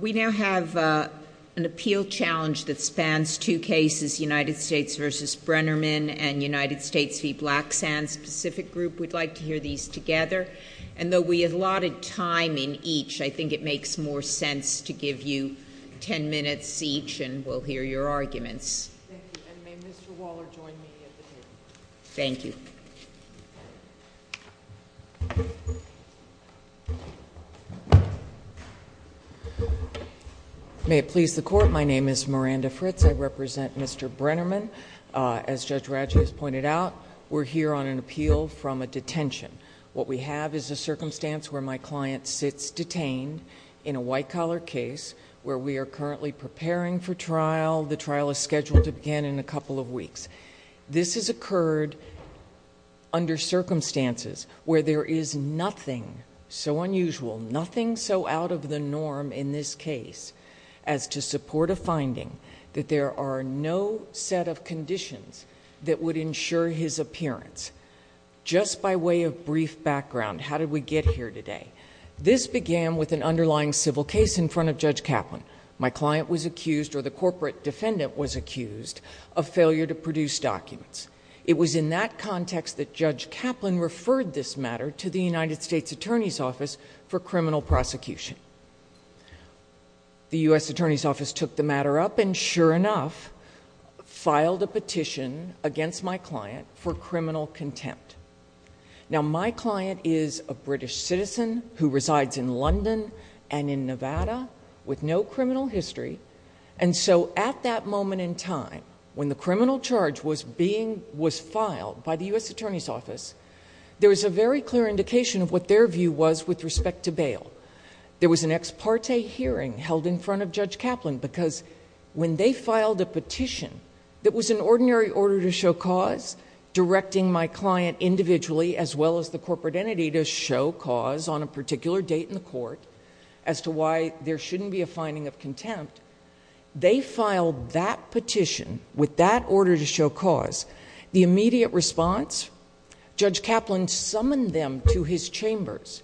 We now have an appeal challenge that spans two cases, United States v. Brennerman and United States v. Black Sand. Specific group, we'd like to hear these together. And though we allotted time in each, I think it makes more sense to give you 10 minutes each, and we'll hear your arguments. Thank you. And may Mr. Waller join me at the podium. Thank you. May it please the court, my name is Miranda Fritz. I represent Mr. Brennerman. As Judge Radji has pointed out, we're here on an appeal from a detention. What we have is a circumstance where my client sits detained in a white collar case, where we are currently preparing for trial. The trial is scheduled to begin in a couple of weeks. This has occurred under circumstances where there is nothing so unusual, nothing so out of the norm in this case, as to support a finding that there are no set of conditions that would ensure his appearance. Just by way of brief background, how did we get here today? This began with an underlying civil case in front of Judge Kaplan. My client was accused, or the corporate defendant was accused, of failure to produce documents. It was in that context that Judge Kaplan referred this matter to the United States Attorney's Office for criminal prosecution. The US Attorney's Office took the matter up, and sure enough, filed a petition against my client for criminal contempt. Now, my client is a British citizen who resides in London and in Nevada with no criminal history. And so at that moment in time, when the criminal charge was filed by the US Attorney's Office, there was a very clear indication of what their view was with respect to bail. There was an ex parte hearing held in front of Judge Kaplan because when they filed a petition that was an ordinary order to show cause, directing my client individually, as well as the corporate entity, to show cause on a particular date in the court as to why there shouldn't be a finding of contempt, they filed that petition with that order to show cause. The immediate response, Judge Kaplan summoned them to his chambers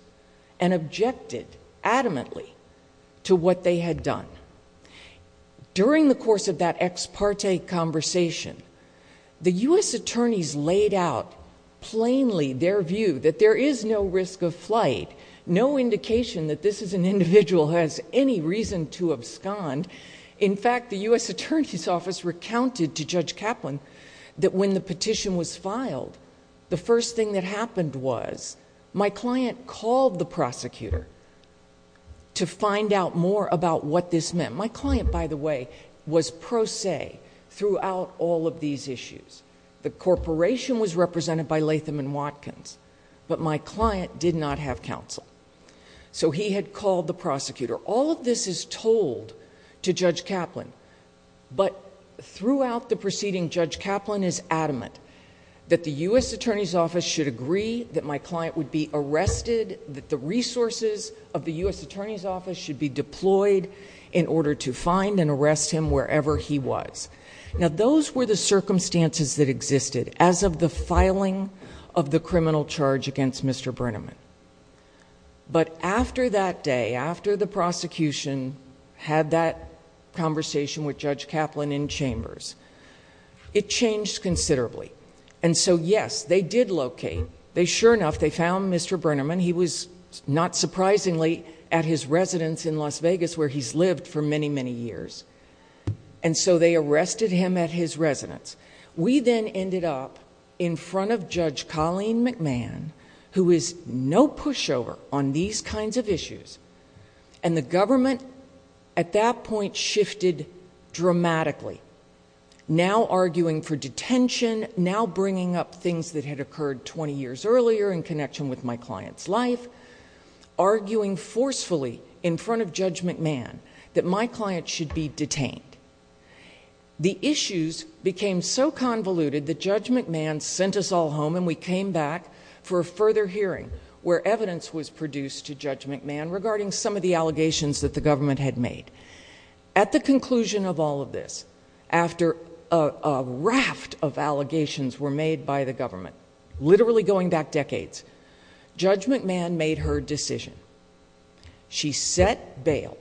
and objected adamantly to what they had done. During the course of that ex parte conversation, the US Attorneys laid out plainly their view that there is no risk of flight, no indication that this is an individual who has any reason to abscond. In fact, the US Attorney's Office recounted to Judge Kaplan that when the petition was filed, the first thing that happened was my client called the prosecutor to find out more about what this meant. My client, by the way, was pro se throughout all of these issues. The corporation was represented by Latham and Watkins, but my client did not have counsel. So he had called the prosecutor. All of this is told to Judge Kaplan, but throughout the proceeding, Judge Kaplan is adamant that the US Attorney's Office should agree that my client would be arrested, that the resources of the US Attorney's Office should be deployed in order to find and arrest him wherever he was. Now, those were the circumstances that existed as of the filing of the criminal charge against Mr. Brenneman. But after that day, after the prosecution had that conversation with Judge Kaplan in chambers, it changed considerably. And so, yes, they did locate. They sure enough, they found Mr. Brenneman. He was, not surprisingly, at his residence in Las Vegas where he's lived for many, many years. And so they arrested him at his residence. We then ended up in front of Judge Colleen McMahon, who is no pushover on these kinds of issues, and the government at that point shifted dramatically. Now arguing for detention, now bringing up things that had occurred 20 years earlier in connection with my client's life, arguing forcefully in front of Judge McMahon that my client should be detained. The issues became so convoluted that Judge McMahon sent us all home and we came back for a further hearing where evidence was produced to Judge McMahon regarding some of the allegations that the government had made. At the conclusion of all of this, after a raft of allegations were made by the government, literally going back decades, Judge McMahon made her decision. She set bail.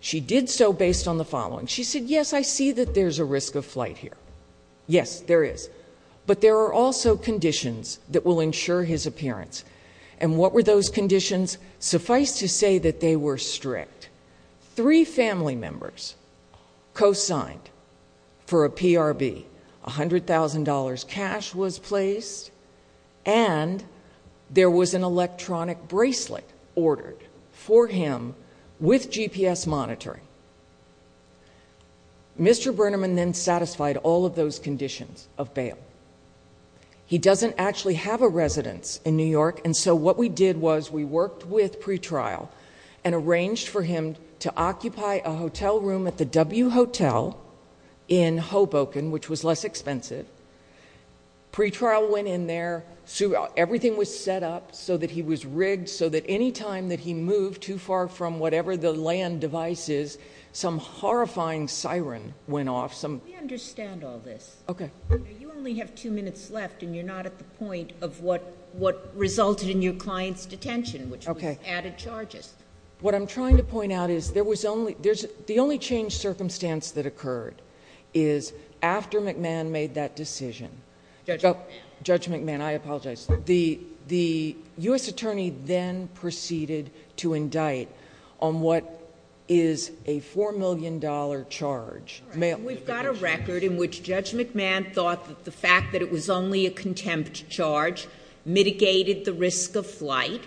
She did so based on the following. She said, yes, I see that there's a risk of flight here. Yes, there is. But there are also conditions that will ensure his appearance and what were those conditions? Suffice to say that they were strict. Three family members co-signed for a PRB. $100,000 cash was placed and there was an electronic bracelet ordered for him with GPS monitoring. Mr. Burnerman then satisfied all of those conditions of bail. He doesn't actually have a residence in New York and so what we did was we worked with pretrial and arranged for him to occupy a hotel room at the W Hotel in Hoboken, which was less expensive. Pretrial went in there. Everything was set up so that he was rigged so that any time that he moved too far from whatever the land device is, some horrifying siren went off. Some- We understand all this. Okay. You only have two minutes left and you're not at the point of what resulted in your client's detention, which was added charges. What I'm trying to point out is there was only, the only changed circumstance that occurred is after McMahon made that decision. Judge McMahon. Judge McMahon, I apologize. The U.S. attorney then proceeded to indict on what is a $4 million charge. We've got a record in which Judge McMahon thought that the fact that it was only a contempt charge mitigated the risk of flight.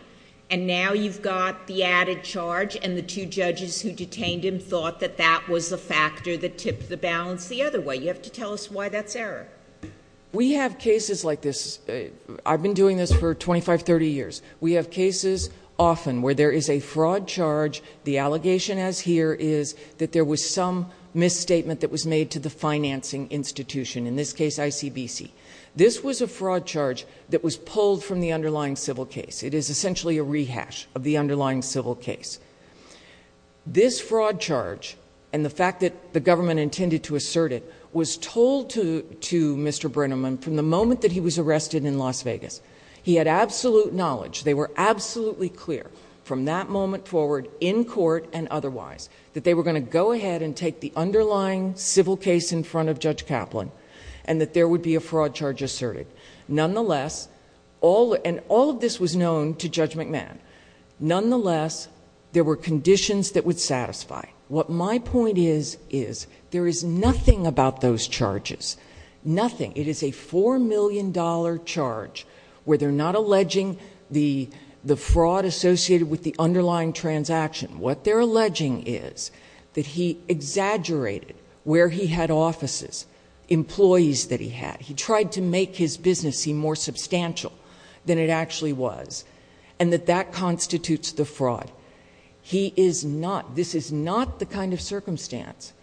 And now you've got the added charge and the two judges who detained him thought that that was a factor that tipped the balance the other way. You have to tell us why that's error. We have cases like this. I've been doing this for 25, 30 years. We have cases often where there is a fraud charge. The allegation as here is that there was some misstatement that was made to the financing institution. In this case, ICBC. This was a fraud charge that was pulled from the underlying civil case. It is essentially a rehash of the underlying civil case. This fraud charge and the fact that the government intended to assert it was told to Mr. Brenneman from the moment that he was arrested in Las Vegas. He had absolute knowledge. They were absolutely clear from that moment forward in court and otherwise that they were gonna go ahead and take the underlying civil case in front of Judge Kaplan and that there would be a fraud charge asserted. Nonetheless, and all of this was known to Judge McMahon. Nonetheless, there were conditions that would satisfy. What my point is is there is nothing about those charges. Nothing. It is a $4 million charge where they're not alleging the fraud associated with the underlying transaction. What they're alleging is that he exaggerated where he had offices, employees that he had. He tried to make his business seem more substantial than it actually was and that that constitutes the fraud. He is not, this is not the kind of circumstance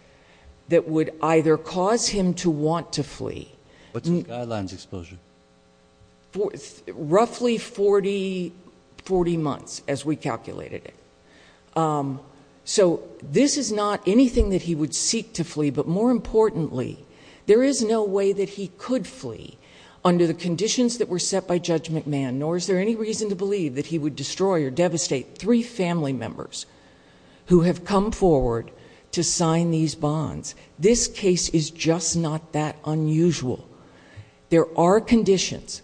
that would either cause him to want to flee. What's the guidelines exposure? Roughly 40 months as we calculated it. So this is not anything that he would seek to flee but more importantly, there is no way that he could flee under the conditions that were set by Judge McMahon nor is there any reason to believe that he would destroy or devastate three family members who have come forward to sign these bonds. This case is just not that unusual. There are conditions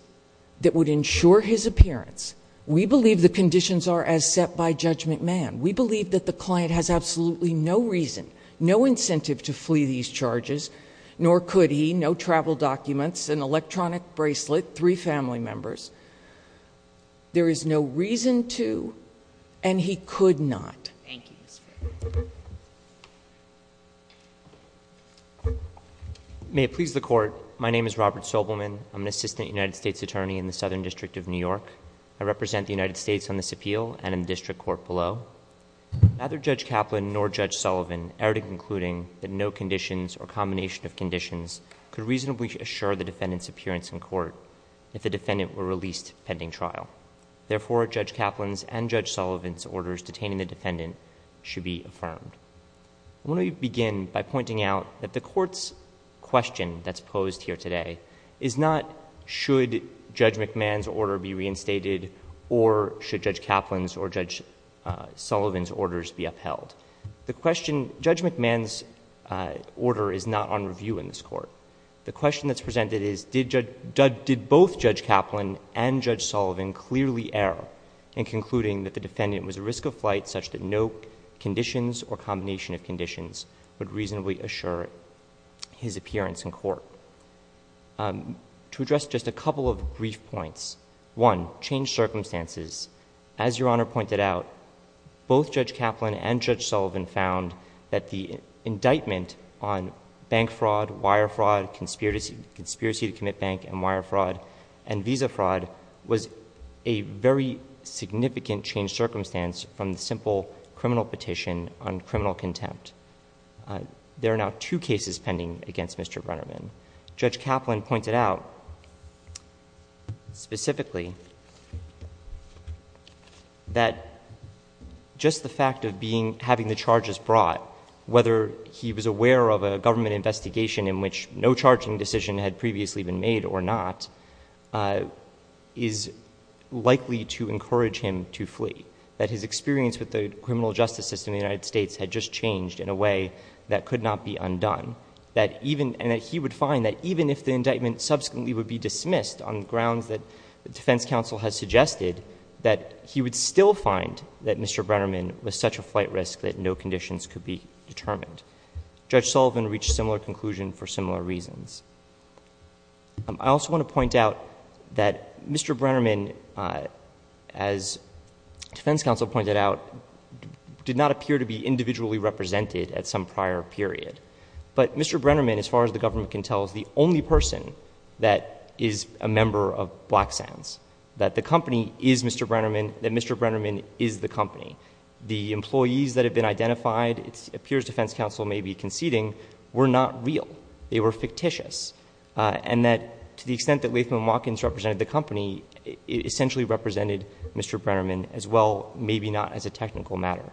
that would ensure his appearance. We believe the conditions are as set by Judge McMahon. We believe that the client has absolutely no reason, no incentive to flee these charges, nor could he, no travel documents, an electronic bracelet, three family members. There is no reason to and he could not. Thank you. May it please the court. My name is Robert Sobelman. I'm an assistant United States attorney in the Southern District of New York. I represent the United States on this appeal and in the district court below. Neither Judge Kaplan nor Judge Sullivan erred in concluding that no conditions or combination of conditions could reasonably assure the defendant's appearance in court if the defendant were released pending trial. Therefore, Judge Kaplan's and Judge Sullivan's orders detaining the defendant should be affirmed. I want to begin by pointing out that the court's question that's posed here today is not, should Judge McMahon's order be reinstated or should Judge Kaplan's or Judge Sullivan's orders be upheld? The question, Judge McMahon's order is not on review in this court. The question that's presented is, did both Judge Kaplan and Judge Sullivan clearly err in concluding that the defendant was at risk of flight such that no conditions or combination of conditions would reasonably assure his appearance in court? To address just a couple of brief points, one, change circumstances. As Your Honor pointed out, both Judge Kaplan and Judge Sullivan found that the indictment on bank fraud, wire fraud, conspiracy to commit bank and wire fraud, and visa fraud was a very significant change circumstance from the simple criminal petition on criminal contempt. There are now two cases pending against Mr. Brennerman. Judge Kaplan pointed out specifically that just the fact of having the charges brought, whether he was aware of a government investigation in which no charging decision had previously been made or not, is likely to encourage him to flee. That his experience with the criminal justice system in the United States had just changed in a way that could not be undone. That even, and that he would find that even if the indictment subsequently would be dismissed on grounds that the defense counsel has suggested, that he would still find that Mr. Brennerman was such a flight risk that no conditions could be determined. Judge Sullivan reached similar conclusion for similar reasons. I also want to point out that Mr. Brennerman, as defense counsel pointed out, did not appear to be individually represented at some prior period. But Mr. Brennerman, as far as the government can tell, is the only person that is a member of Black Sands. That the company is Mr. Brennerman, that Mr. Brennerman is the company. The employees that have been identified, it appears defense counsel may be conceding, were not real. They were fictitious. And that to the extent that Latham and Watkins represented the company, it essentially represented Mr. Brennerman as well, maybe not as a technical matter.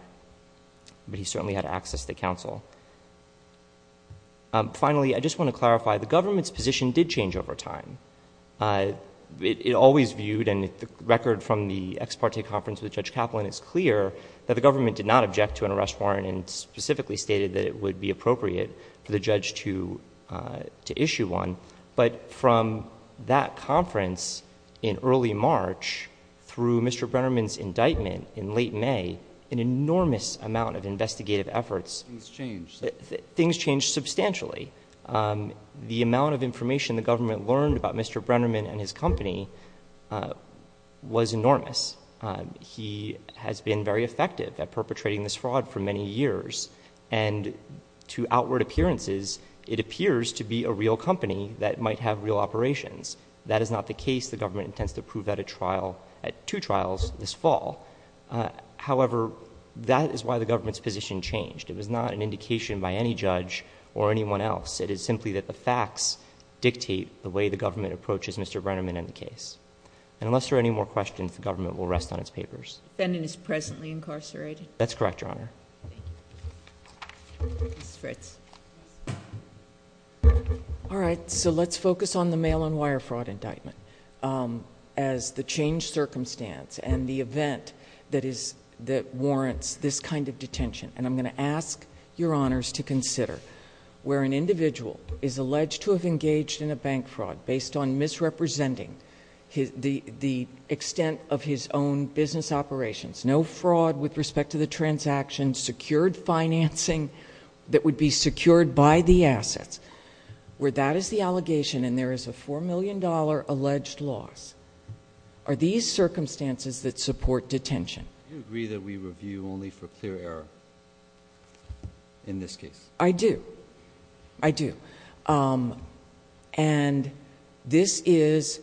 But he certainly had access to counsel. Finally, I just want to clarify, the government's position did change over time. It always viewed, and the record from the ex parte conference with Judge Kaplan is clear, that the government did not object to an arrest warrant and specifically stated that it would be appropriate for the judge to issue one. But from that conference in early March, through Mr. Brennerman's indictment in late May, an enormous amount of investigative efforts. Things changed. Things changed substantially. The amount of information the government learned about Mr. Brennerman and his company was enormous. He has been very effective at perpetrating this fraud for many years. And to outward appearances, it appears to be a real company that might have real operations. That is not the case. The government intends to prove that at trial, at two trials this fall. However, that is why the government's position changed. It was not an indication by any judge or anyone else. It is simply that the facts dictate the way the government approaches Mr. Brennerman and the case. And unless there are any more questions, the government will rest on its papers. Fendon is presently incarcerated. That's correct, Your Honor. Ms. Fritz. All right, so let's focus on the mail and wire fraud indictment. As the changed circumstance and the event that warrants this kind of detention. And I'm gonna ask Your Honors to consider where an individual is alleged to have engaged in a bank fraud based on misrepresenting the extent of his own business operations. No fraud with respect to the transaction, secured financing that would be secured by the assets. Where that is the allegation and there is a $4 million alleged loss. Are these circumstances that support detention? Do you agree that we review only for clear error in this case? I do. I do. And this is,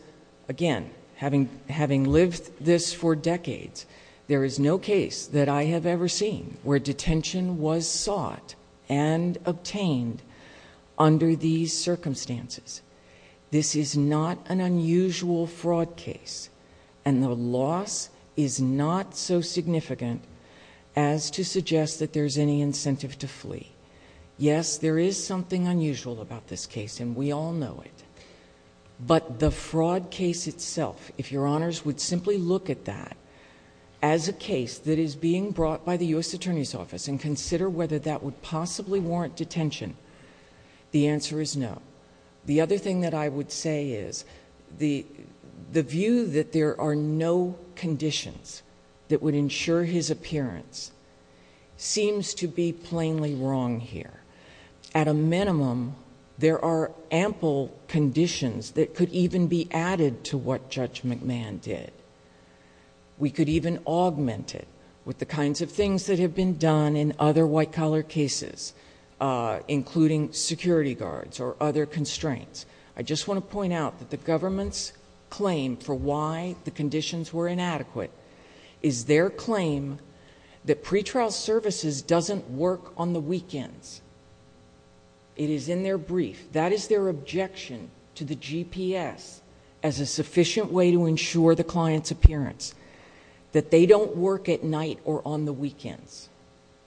again, having lived this for decades, there is no case that I have ever seen where detention was sought and obtained under these circumstances. This is not an unusual fraud case. And the loss is not so significant as to suggest that there's any incentive to flee. Yes, there is something unusual about this case and we all know it. But the fraud case itself, if Your Honors would simply look at that as a case that is being brought by the U.S. Attorney's Office and consider whether that would possibly warrant detention, the answer is no. The other thing that I would say is the view that there are no conditions that would ensure his appearance seems to be plainly wrong here. At a minimum, there are ample conditions that could even be added to what Judge McMahon did. We could even augment it with the kinds of things that have been done in other white collar cases, including security guards or other constraints. I just want to point out that the government's claim for why the conditions were inadequate is their claim that pretrial services doesn't work on the weekends. It is in their brief. That is their objection to the GPS as a sufficient way to ensure the client's appearance, that they don't work at night or on the weekends.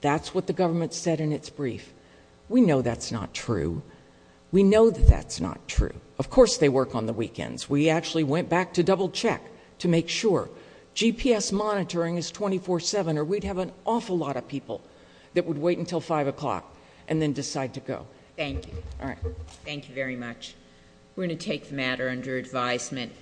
That's what the government said in its brief. We know that's not true. We know that that's not true. Of course they work on the weekends. We actually went back to double check to make sure GPS monitoring is 24-7 or we'd have an awful lot of people that would wait until five o'clock and then decide to go. Thank you. All right. Thank you very much. We're gonna take the matter under advisement.